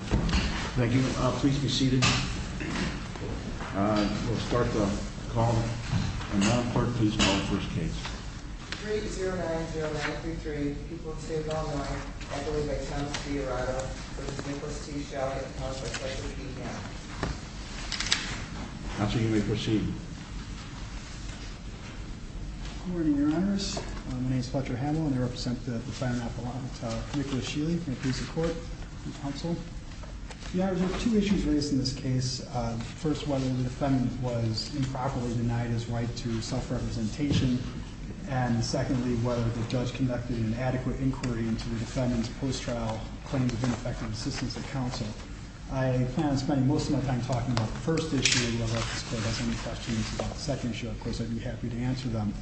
Thank you. Please be seated. We'll start the call, and Madam Court, please call the first case. 3-0-9-0-9-3-3, People of the State of Illinois, by the name of Thomas D. Arado, v. Nicholas T. Shelley, counsel of the Fletcher P. Hamill. Counsel, you may proceed. Good morning, Your Honors. My name is Fletcher Hamill, and I represent the defendant at the law, Nicholas Sheley, in the police court and counsel. Your Honors, there are two issues raised in this case. First, whether the defendant was improperly denied his right to self-representation, and secondly, whether the judge conducted an adequate inquiry into the defendant's post-trial claims of ineffective assistance at counsel. I plan on spending most of my time talking about the first issue. If you have any questions about the second issue, of course, I'd be happy to answer them.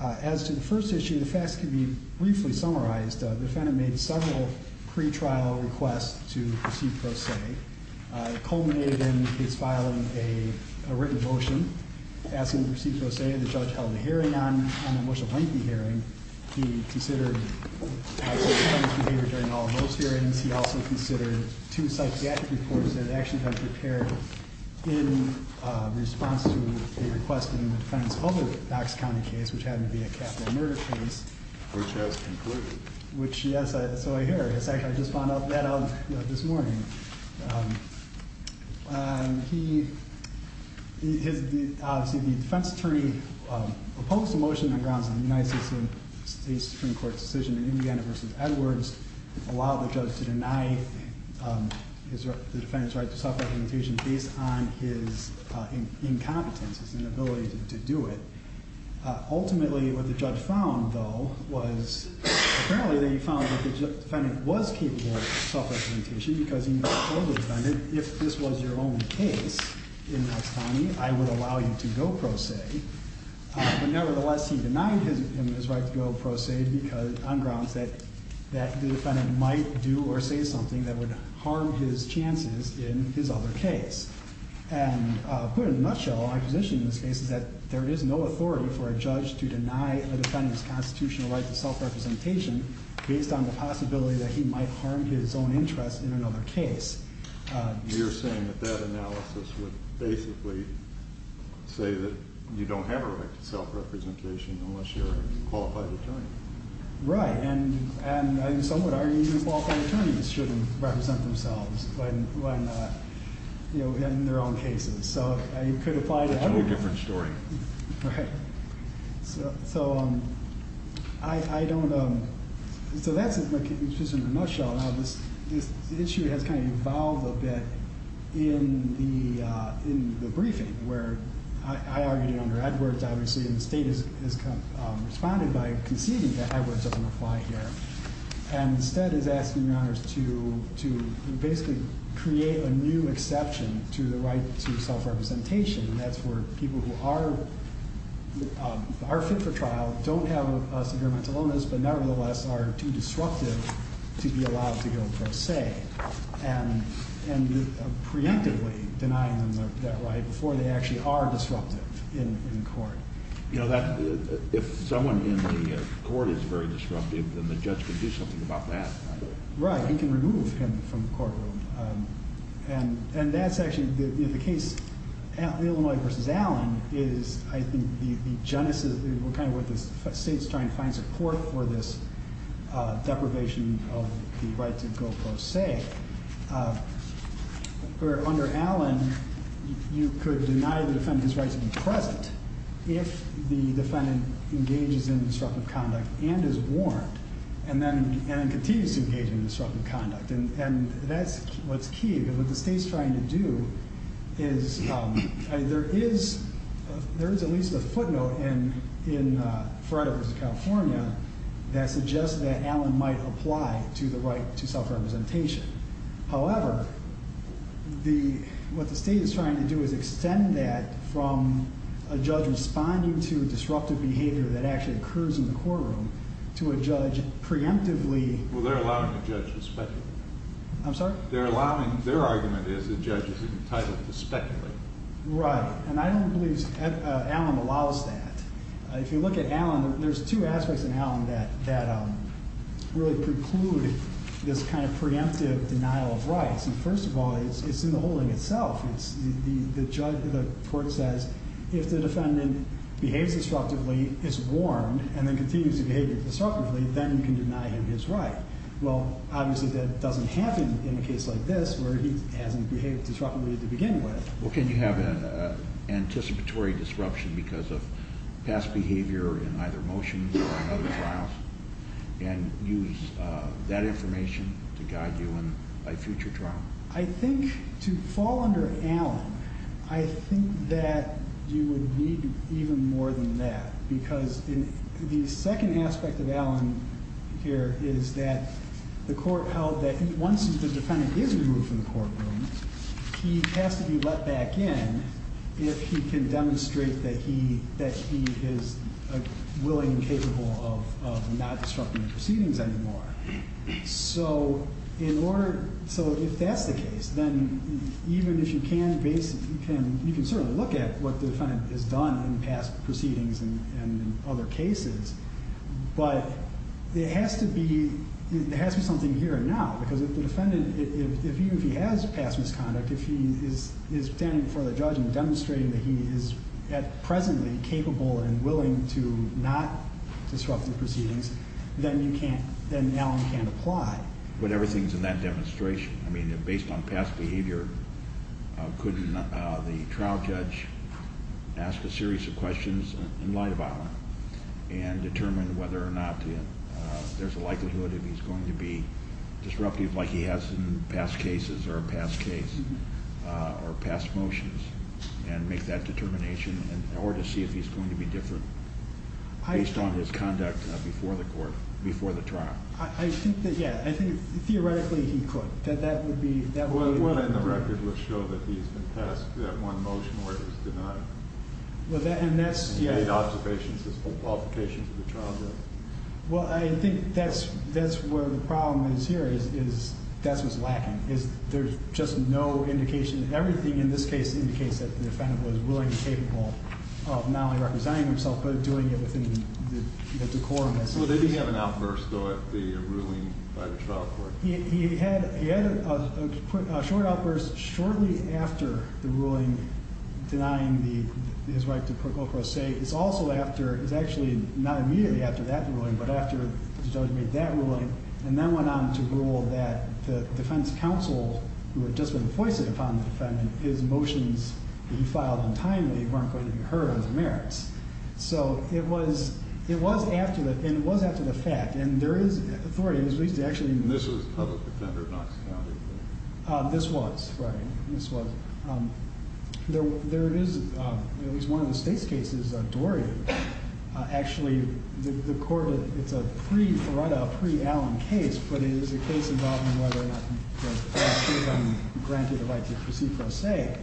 As to the first issue, the facts can be briefly summarized. The defendant made several pretrial requests to proceed pro se. It culminated in his filing a written motion asking to proceed pro se. The judge held a hearing on it, a much lengthy hearing. He considered the defendant's behavior during all of those hearings. He also considered two psychiatric reports that had actually been prepared in response to a request in the defendant's public Knox County case, which happened to be a capital murder case. Which has concluded. Which, yes, that's all I hear. I just found that out this morning. The defense attorney opposed the motion on the grounds that the United States Supreme Court's decision in Indiana v. Edwards allowed the judge to deny the defendant's right to self-representation based on his incompetence, his inability to do it. Ultimately, what the judge found, though, was apparently that he found that the defendant was capable of self-representation because he knew that as a defendant, if this was your own case in Knox County, I would allow you to go pro se. But nevertheless, he denied him his right to go pro se on grounds that the defendant might do or say something that would harm his chances in his other case. And put in a nutshell, my position in this case is that there is no authority for a judge to deny a defendant's constitutional right to self-representation based on the possibility that he might harm his own interests in another case. You're saying that that analysis would basically say that you don't have a right to self-representation unless you're a qualified attorney. Right. And some would argue that qualified attorneys shouldn't represent themselves in their own cases. So it could apply to everyone. It's a whole different story. Right. So that's just in a nutshell. Now, this issue has kind of evolved a bit in the briefing where I argued it under Edwards, obviously, and the state has responded by conceding that Edwards doesn't apply here, and instead is asking your honors to basically create a new exception to the right to self-representation. And that's where people who are fit for trial don't have a severe mental illness, but nevertheless are too disruptive to be allowed to go pro se and preemptively denying them that right before they actually are disruptive in court. You know, if someone in the court is very disruptive, then the judge can do something about that. Right. He can remove him from the courtroom. And that's actually the case, Illinois v. Allen, is I think the genesis, kind of where the state's trying to find support for this deprivation of the right to go pro se, where under Allen you could deny the defendant his right to be present if the defendant engages in disruptive conduct and is warned and then continues to engage in disruptive conduct. And that's what's key, because what the state's trying to do is there is at least a footnote in Frederick v. California that suggests that Allen might apply to the right to self-representation. However, what the state is trying to do is extend that from a judge responding to disruptive behavior that actually occurs in the courtroom to a judge preemptively. Well, they're allowing the judge to speculate. I'm sorry? Their argument is the judge is entitled to speculate. Right. And I don't believe Allen allows that. If you look at Allen, there's two aspects in Allen that really preclude this kind of preemptive denial of rights. And first of all, it's in the holding itself. The court says if the defendant behaves disruptively, is warned, and then continues to behave disruptively, then you can deny him his right. Well, obviously that doesn't happen in a case like this where he hasn't behaved disruptively to begin with. Well, can you have an anticipatory disruption because of past behavior in either motion or in other trials and use that information to guide you in a future trial? I think to fall under Allen, I think that you would need even more than that, because the second aspect of Allen here is that the court held that once the defendant is removed from the courtroom, he has to be let back in if he can demonstrate that he is willing and capable of not disrupting the proceedings anymore. So if that's the case, then even if you can, you can certainly look at what the defendant has done in past proceedings and other cases, but there has to be something here and now, because if the defendant, even if he has passed misconduct, if he is standing before the judge and demonstrating that he is at presently capable and willing to not disrupt the proceedings, then Allen can't apply. But everything is in that demonstration. I mean, based on past behavior, couldn't the trial judge ask a series of questions in light of Allen and determine whether or not there's a likelihood that he's going to be disruptive like he has in past cases or past cases or past motions and make that determination in order to see if he's going to be different based on his conduct before the court, before the trial? I think that, yeah, I think theoretically he could. What in the record would show that he's been passed that one motion where he's denied? Well, I think that's where the problem is here, is that's what's lacking. There's just no indication. Everything in this case indicates that the defendant was willing and capable of not only representing himself but doing it within the decorum. So they didn't have an outburst, though, at the ruling by the trial court? He had a short outburst shortly after the ruling denying his right to pro quo pro se. It's also after, it's actually not immediately after that ruling, but after the judge made that ruling and then went on to rule that the defense counsel, who had just been foisted upon the defendant, his motions that he filed untimely weren't going to be heard as merits. So it was after that, and it was after the fact, and there is authority. And this was a public defender, not a county court? This was, right. There is, at least one of the state's cases, Dorian. Actually, the court, it's a pre-Foretta, pre-Allen case, but it is a case involving whether or not he was granted the right to proceed pro se.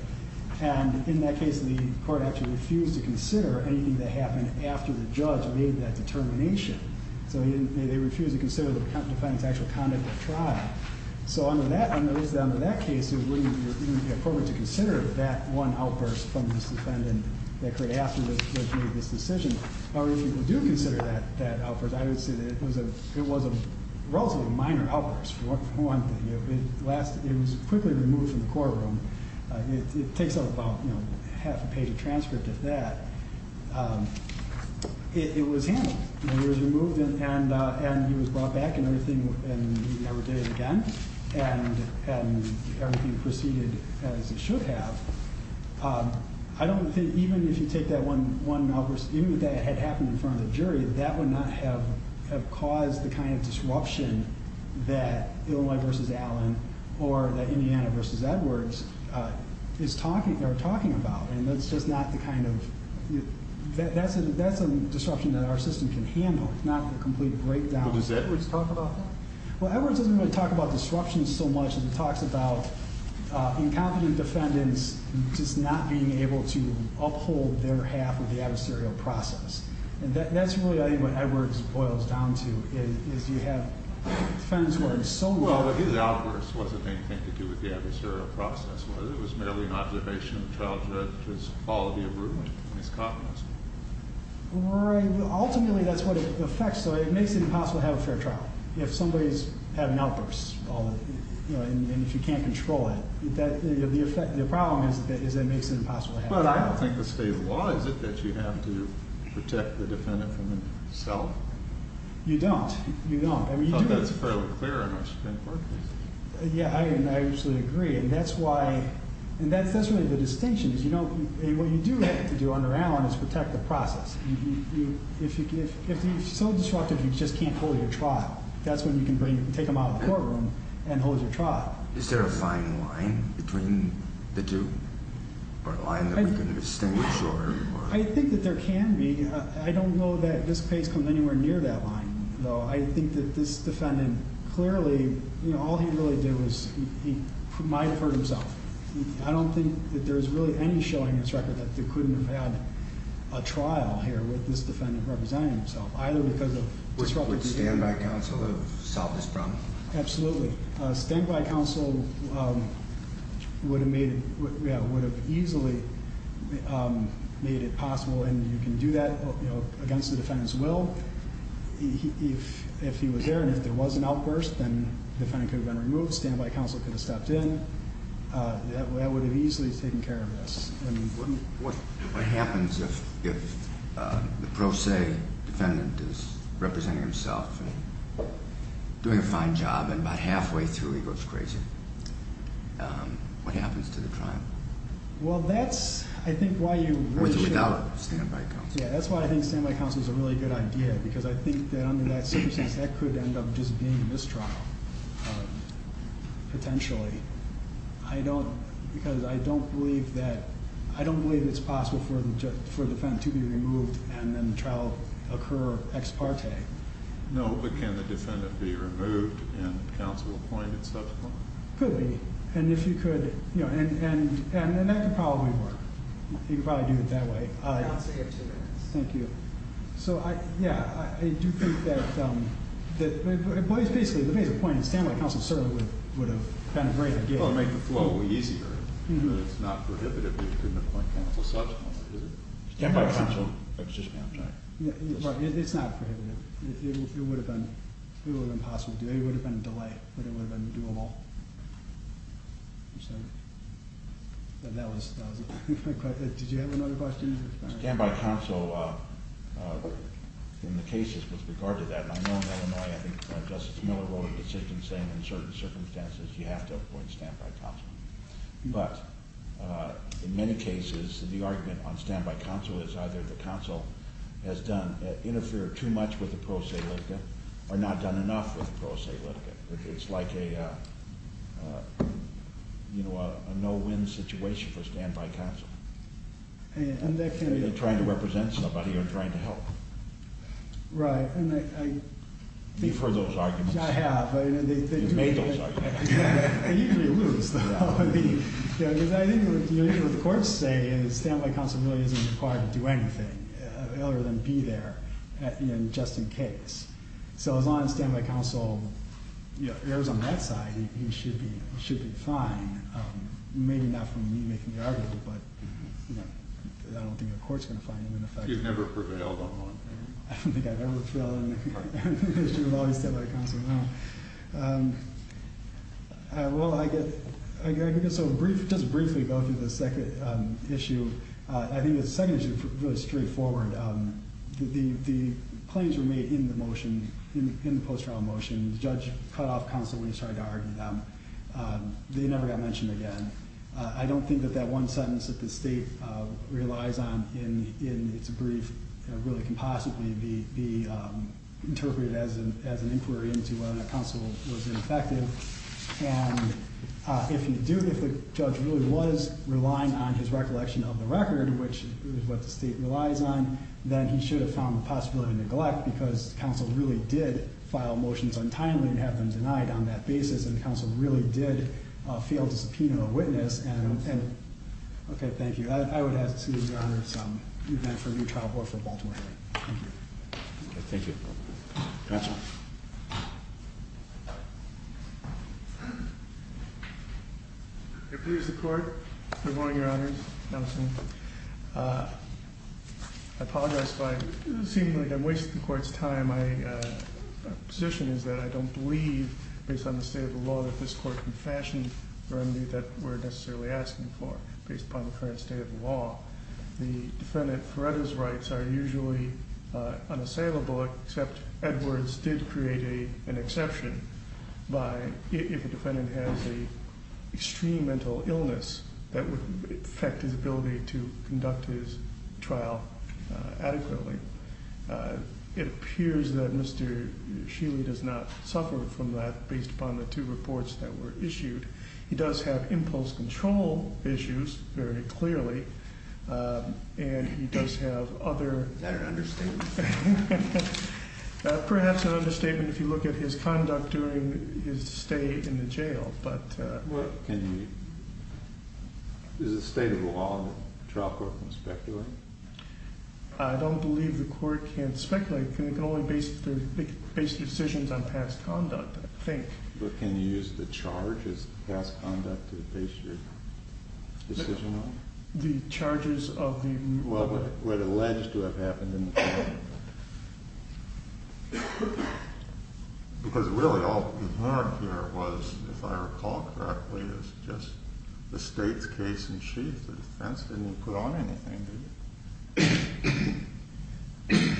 And in that case, the court actually refused to consider anything that happened after the judge made that determination. So they refused to consider the defendant's actual conduct at trial. So under that case, it wouldn't be appropriate to consider that one outburst from this defendant that occurred after the judge made this decision. However, if you do consider that outburst, I would say that it was a relatively minor outburst. One, it was quickly removed from the courtroom. It takes up about half a page of transcript of that. It was handled. It was removed, and he was brought back and everything, and he never did it again, and everything proceeded as it should have. I don't think even if you take that one outburst, even if that had happened in front of the jury, that would not have caused the kind of disruption that Illinois v. Allen or that Indiana v. Edwards are talking about. And that's just not the kind of – that's a disruption that our system can handle. It's not a complete breakdown. But does Edwards talk about that? Well, Edwards doesn't really talk about disruption so much as he talks about incompetent defendants just not being able to uphold their half of the adversarial process. And that's really what Edwards boils down to, is you have defendants who are so – Well, his outburst wasn't anything to do with the adversarial process. It was merely an observation of childhood, his quality of root, and his cognizance. Right. Ultimately, that's what it affects. So it makes it impossible to have a fair trial if somebody's having outbursts and if you can't control it. The problem is that it makes it impossible to have a fair trial. But I don't think the state of the law is it that you have to protect the defendant from the cell? You don't. You don't. I mean, you do get – I thought that was fairly clear in our Supreme Court case. Yeah, I actually agree. And that's why – and that's really the distinction is, you know, what you do have to do on the round is protect the process. If you're so disruptive, you just can't hold your trial. That's when you can take them out of the courtroom and hold your trial. Is there a fine line between the two, or a line that we can distinguish? I think that there can be. I don't know that this case comes anywhere near that line, though. I think that this defendant clearly, you know, all he really did was he might have hurt himself. I don't think that there's really any showing in this record that they couldn't have had a trial here with this defendant representing himself, either because of disruptive behavior. Would standby counsel have solved this problem? Absolutely. Standby counsel would have easily made it possible, and you can do that against the defendant's will. If he was there and if there was an outburst, then the defendant could have been removed. Standby counsel could have stepped in. That would have easily taken care of this. What happens if the pro se defendant is representing himself and doing a fine job, and about halfway through he goes crazy? What happens to the trial? Well, that's, I think, why you would should- Without standby counsel. Yeah, that's why I think standby counsel is a really good idea, because I think that under that circumstance, that could end up just being a mistrial, potentially. I don't, because I don't believe that, I don't believe it's possible for the defendant to be removed and then the trial occur ex parte. No, but can the defendant be removed and counsel appointed subsequently? Could be, and if you could, you know, and that could probably work. You could probably do it that way. Counsel, you have two minutes. Thank you. So, yeah, I do think that, basically, the main point is that standby counsel would have been a great idea. It would have made the flow easier. It's not prohibitive that you couldn't appoint counsel subsequently. Standby counsel, it's just amti. Right, it's not prohibitive. It would have been impossible to do. It would have been a delay, but it would have been doable. So, that was it. Did you have another question? Standby counsel, in the cases with regard to that, and I know in Illinois, I think Justice Miller wrote a decision saying in certain circumstances you have to appoint standby counsel. But, in many cases, the argument on standby counsel is either the counsel has done, interfered too much with the pro se litigant or not done enough with the pro se litigant. It's like a, you know, a no-win situation for standby counsel. Either trying to represent somebody or trying to help. Right, and I think... You've heard those arguments. I have. You've made those arguments. I usually lose, though. I think what the courts say is standby counsel really isn't required to do anything other than be there, you know, just in case. So, as long as standby counsel, you know, errs on that side, he should be fine. Maybe not from me making the argument, but, you know, I don't think the court's going to find him in effect. You've never prevailed on one. I don't think I've ever prevailed on any issue with standby counsel, no. Well, I guess I'll just briefly go through the second issue. I think the second issue is really straightforward. The claims were made in the motion, in the post-trial motion. The judge cut off counsel when he started to argue them. They never got mentioned again. I don't think that that one sentence that the state relies on in its brief really can possibly be interpreted as an inquiry into whether or not counsel was ineffective. And if the judge really was relying on his recollection of the record, which is what the state relies on, then he should have found the possibility to neglect because counsel really did file motions untimely and have them denied on that basis, and counsel really did fail to subpoena a witness. And, okay, thank you. I would ask the seated Your Honors to move back for a new trial or for Baltimore hearing. Thank you. Thank you. Counsel. I pledge the court, good morning, Your Honors. Namaste. Good morning. I apologize by seemingly wasting the court's time. My position is that I don't believe, based on the state of the law, that this court can fashion the remedy that we're necessarily asking for, based upon the current state of the law. The defendant Feretta's rights are usually unassailable, except Edwards did create an exception by, if a defendant has an extreme mental illness, that would affect his ability to conduct his trial adequately. It appears that Mr. Shealy does not suffer from that, based upon the two reports that were issued. He does have impulse control issues, very clearly, and he does have other. Is that an understatement? Perhaps an understatement if you look at his conduct during his stay in the jail, but. Well, can you, is the state of the law that the trial court can speculate? I don't believe the court can speculate. But can you use the charges of past conduct to base your decision on? The charges of the. Well, what alleged to have happened in the past. Because really all that was, if I recall correctly, was just the state's case in chief. The defense didn't even put on anything, did it?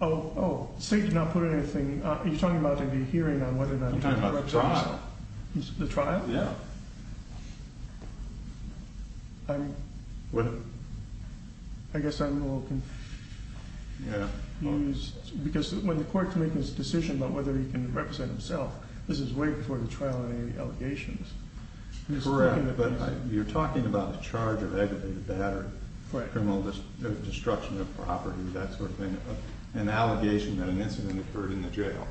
Oh, oh, state did not put anything. Are you talking about the hearing on whether or not. I'm talking about the trial. The trial? Yeah. I guess I'm a little confused. Yeah. Because when the court can make this decision about whether he can represent himself, this is way before the trial and any allegations. Correct. You're talking about a charge of aggravated battery, criminal destruction of property, that sort of thing. An allegation that an incident occurred in the jail.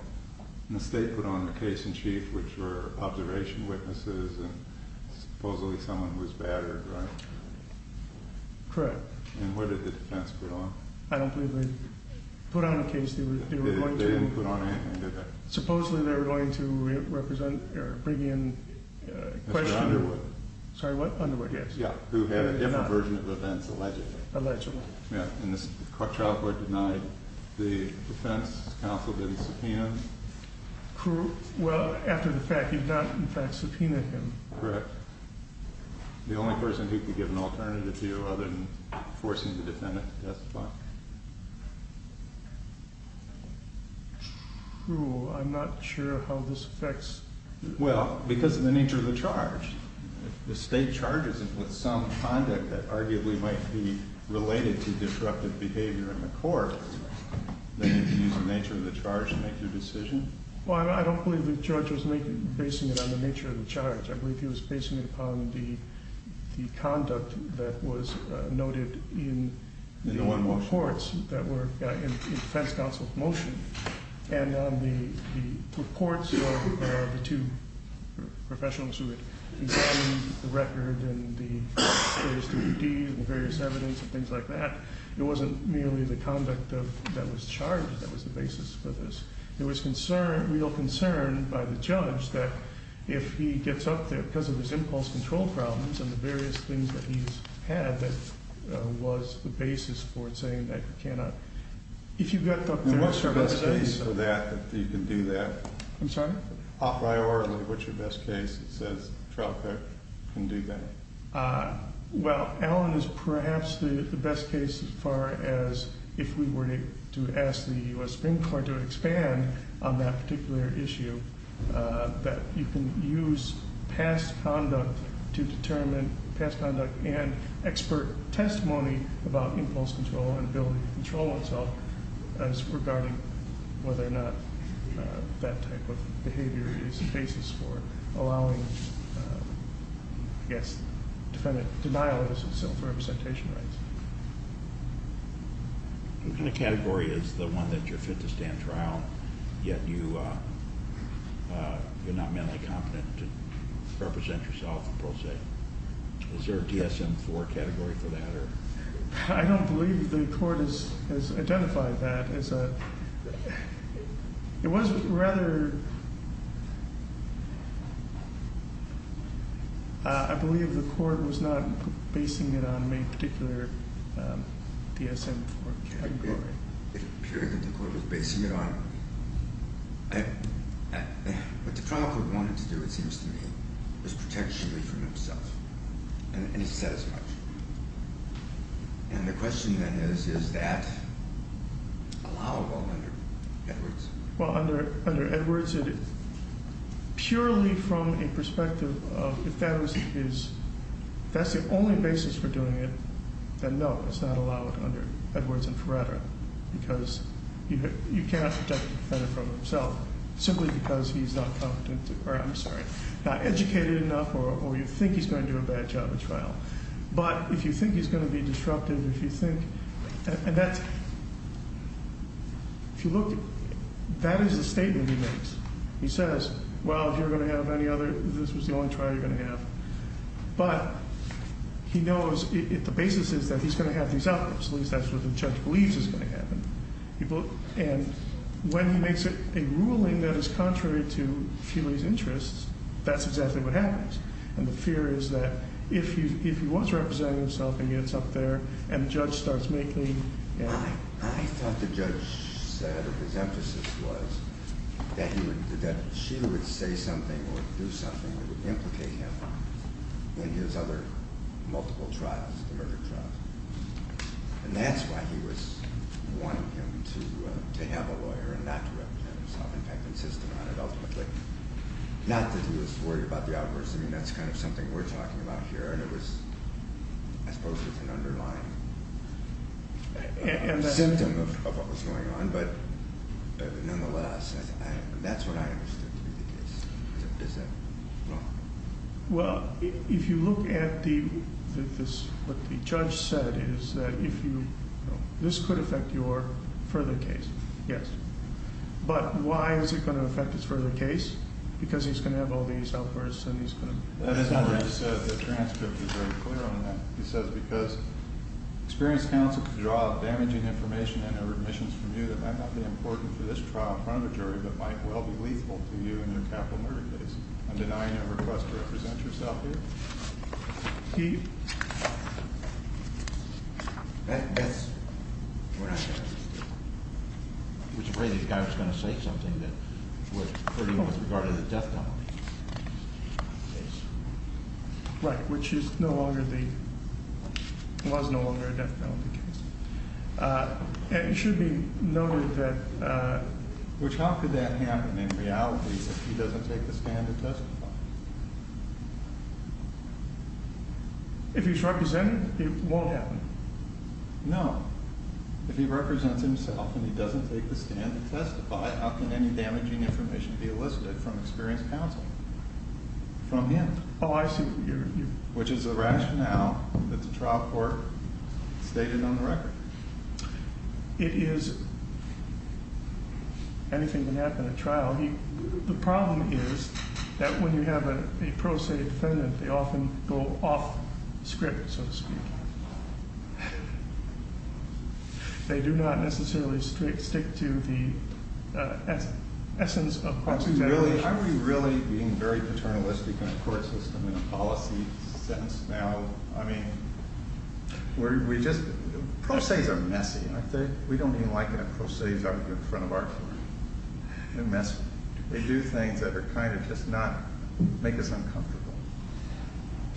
And the state put on the case in chief, which were observation witnesses and supposedly someone who was battered, right? Correct. And what did the defense put on? I don't believe they put on a case. They didn't put on anything, did they? Supposedly they were going to represent or bring in a questioner. Mr. Underwood. Sorry, what? Underwood, yes. Yeah. Who had a different version of events allegedly. Allegedly. Yeah. And this child court denied the defense counsel didn't subpoena him. Well, after the fact, he did not, in fact, subpoena him. Correct. The only person he could give an alternative to other than forcing the defendant to testify. True. I'm not sure how this affects. Well, because of the nature of the charge. If the state charges him with some conduct that arguably might be related to disruptive behavior in the court, then you can use the nature of the charge to make your decision. Well, I don't believe the judge was basing it on the nature of the charge. I believe he was basing it upon the conduct that was noted in the reports that were in the defense counsel's motion. And on the reports of the two professionals who had examined the record and the various DVDs and the various evidence and things like that, it wasn't merely the conduct that was charged that was the basis for this. There was concern, real concern, by the judge that if he gets up there because of his impulse control problems and the various things that he's had, that was the basis for it saying that he cannot. If you get up there. What's your best case for that, that you can do that? I'm sorry? A priori, what's your best case that says trial court can do that? Well, Alan is perhaps the best case as far as if we were to ask the U.S. Supreme Court to expand on that particular issue, that you can use past conduct to determine past conduct and expert testimony about impulse control and ability to control itself as regarding whether or not that type of behavior is the basis for allowing, I guess, defendant denial of self-representation rights. What kind of category is the one that you're fit to stand trial, yet you're not mentally competent to represent yourself, per se? Is there a DSM-IV category for that? I don't believe the court has identified that as a, it was rather, I believe the court was not basing it on a particular DSM-IV category. It appeared that the court was basing it on, what the trial court wanted to do, it seems to me, was protect Sheely from himself. And it said as much. And the question then is, is that allowable under Edwards? Well, under Edwards, purely from a perspective of, if that's the only basis for doing it, then no, it's not allowable under Edwards and Ferreira. Because you cannot protect the defendant from himself, simply because he's not competent to, or I'm sorry, not educated enough or you think he's going to do a bad job at trial. But if you think he's going to be disruptive, if you think, and that's, if you look, that is a statement he makes. He says, well, if you're going to have any other, this was the only trial you're going to have. But he knows if the basis is that he's going to have these outcomes, at least that's what the judge believes is going to happen. And when he makes a ruling that is contrary to Sheely's interests, that's exactly what happens. And the fear is that if he was representing himself and gets up there and the judge starts making, you know. I thought the judge said that his emphasis was that he would, that Sheely would say something or do something that would implicate him in his other multiple trials, the murder trial. And that's why he was wanting him to have a lawyer and not to represent himself. Not that he was worried about the outbursts. I mean, that's kind of something we're talking about here. And it was, I suppose, an underlying symptom of what was going on. But nonetheless, that's what I understood to be the case. Is that wrong? Well, if you look at the, what the judge said is that if you, this could affect your further case, yes. But why is it going to affect his further case? Because he's going to have all these outbursts and he's going to. That is not what he said. The transcript is very clear on that. He says because experienced counsel could draw out damaging information and or admissions from you that might not be important for this trial in front of a jury but might well be lethal to you in a capital murder case. I'm denying your request to represent yourself here. He. Right. Which is no longer the. It was no longer a death penalty case. It should be noted that. Which how could that happen in reality? He doesn't take the standard test. If he's represented, it won't happen. No. If he represents himself and he doesn't take the stand to testify, how can any damaging information be elicited from experienced counsel? From him. Oh, I see. Which is a rationale that the trial court stated on the record. It is. Anything can happen at trial. The problem is that when you have a pro se defendant, they often go off script, so to speak. They do not necessarily strict stick to the essence of. Are we really being very paternalistic in a court system in a policy sense now? I mean. We just pro se's are messy. We don't even like a pro se's argument in front of our court. They're messy. They do things that are kind of just not make us uncomfortable.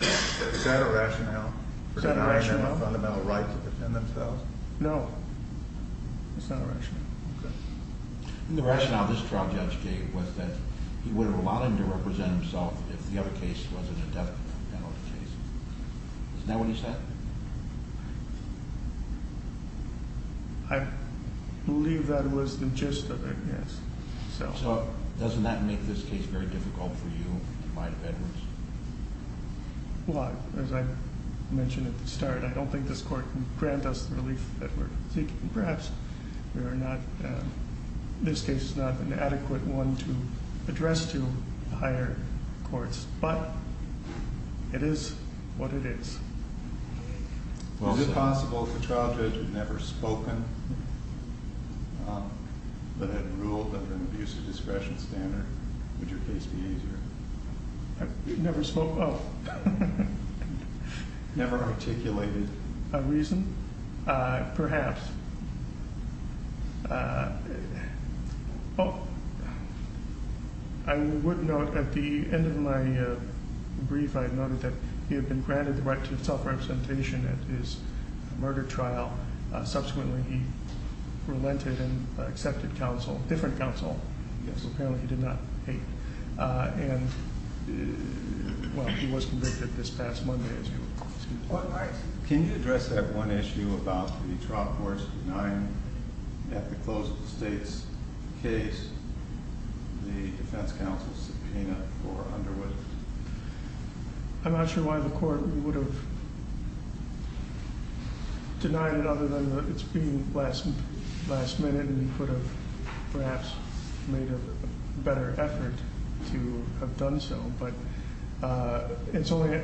Is that a rationale? Is that a rationale? For denying them a fundamental right to defend themselves? No. It's not a rationale. Okay. The rationale this trial judge gave was that he would have allowed him to represent himself if the other case wasn't a death penalty case. Is that what he said? I believe that was the gist of it. Yes. So doesn't that make this case very difficult for you? As I mentioned at the start, I don't think this court can grant us the relief that we're seeking. Perhaps this case is not an adequate one to address to higher courts, but it is what it is. Well, if possible, if the trial judge had never spoken, but had ruled under an abusive discretion standard, would your case be easier? Never spoke? Oh. Never articulated? A reason? Perhaps. Well, I would note at the end of my brief, I noted that he had been granted the right to self-representation at his murder trial. Subsequently, he relented and accepted counsel, different counsel. Yes. Apparently, he did not hate. And, well, he was convicted this past Monday as well. Can you address that one issue about the trial court's denying, at the close of the state's case, the defense counsel's subpoena for Underwood? I'm not sure why the court would have denied it other than that it's being last minute, and he could have perhaps made a better effort to have done so. But it's only,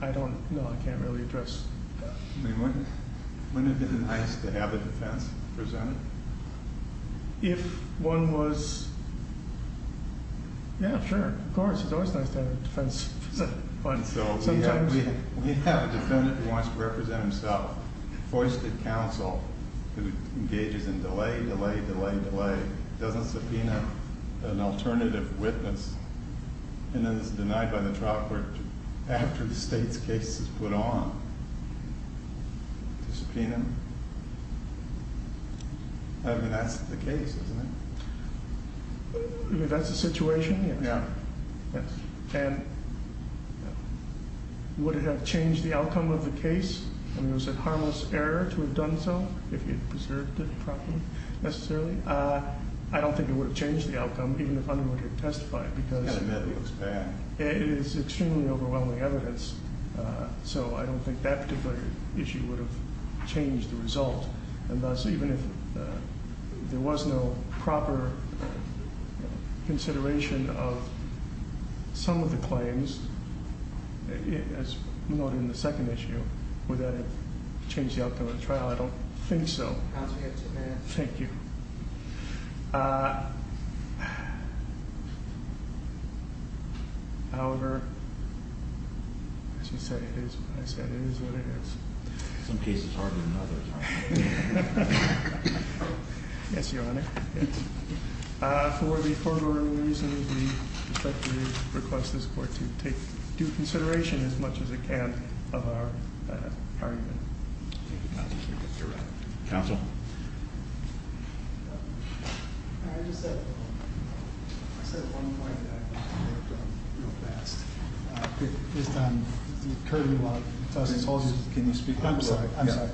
I don't know, I can't really address that. Wouldn't it have been nice to have a defense presented? If one was, yeah, sure, of course, it's always nice to have a defense presented. We have a defendant who wants to represent himself, foisted counsel who engages in delay, delay, delay, delay, doesn't subpoena an alternative witness, and then is denied by the trial court after the state's case is put on to subpoena him. I mean, that's the case, isn't it? That's the situation? Yeah. Yes. And would it have changed the outcome of the case? I mean, was it harmless error to have done so, if he had preserved it properly, necessarily? I don't think it would have changed the outcome, even if Underwood had testified, because- It's kind of medical, it's bad. It is extremely overwhelming evidence, so I don't think that particular issue would have changed the result. And thus, even if there was no proper consideration of some of the claims, as noted in the second issue, would that have changed the outcome of the trial? I don't think so. Counsel, you have two minutes. Thank you. However, as you said, it is what I said, it is what it is. Some cases are harder than others. Yes, Your Honor. For the foregoing reasons, we respectfully request this court to take due consideration, as much as it can, of our argument. Counsel? I just have one point that I'd like to make real fast, based on- Can you speak up? I'm sorry. I'm sorry.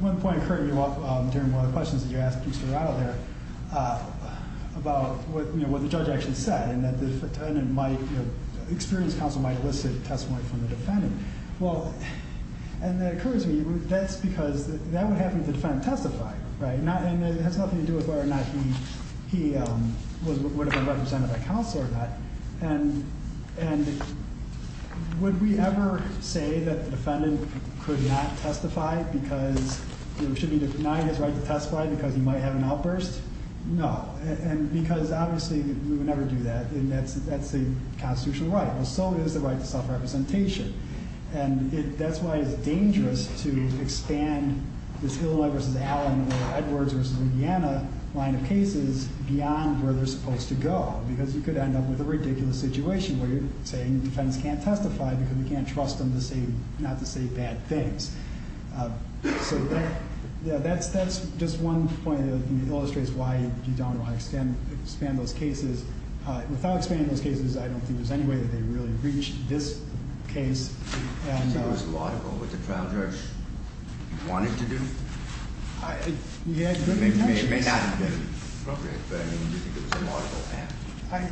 One point occurred to me during one of the questions that you asked Mr. Rado there, about what the judge actually said, and that the attendant might- experienced counsel might elicit testimony from the defendant. Well, and that occurs to me, that's because that would have the defendant testify, right? And it has nothing to do with whether or not he would have been represented by counsel or not. And would we ever say that the defendant could not testify because- should he deny his right to testify because he might have an outburst? No. And because, obviously, we would never do that, and that's a constitutional right. Well, so is the right to self-representation. And that's why it's dangerous to expand this Hilliard v. Allen or Edwards v. Vienna line of cases beyond where they're supposed to go. Because you could end up with a ridiculous situation where you're saying the defendants can't testify because you can't trust them to say- not to say bad things. So that's just one point that illustrates why you don't want to expand those cases. Without expanding those cases, I don't think there's any way that they really reach this case. Do you think it was laudable what the trial judge wanted to do? He had good intentions. It may not have been appropriate, but I mean, do you think it was a laudable act?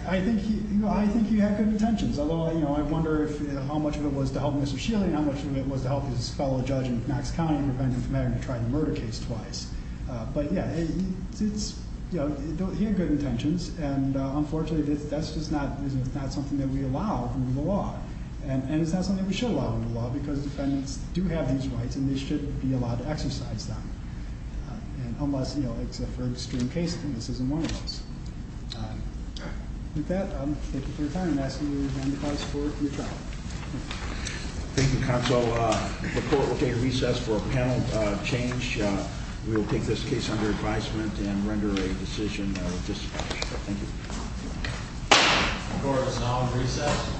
I think he had good intentions. Although, you know, I wonder how much of it was to help Mr. Schiele and how much of it was to help his fellow judge in Knox County, independent from having to try the murder case twice. But, yeah, he had good intentions. And, unfortunately, that's just not something that we allow under the law. And it's not something we should allow under the law because defendants do have these rights and they should be allowed to exercise them. Unless, you know, it's a very extreme case, then this isn't one of those. With that, thank you for your time. I'm asking you again to call us forward for your trial. Thank you, counsel. The court will take a recess for a panel change. We will take this case under advisement and render a decision. Thank you. The court is now in recess.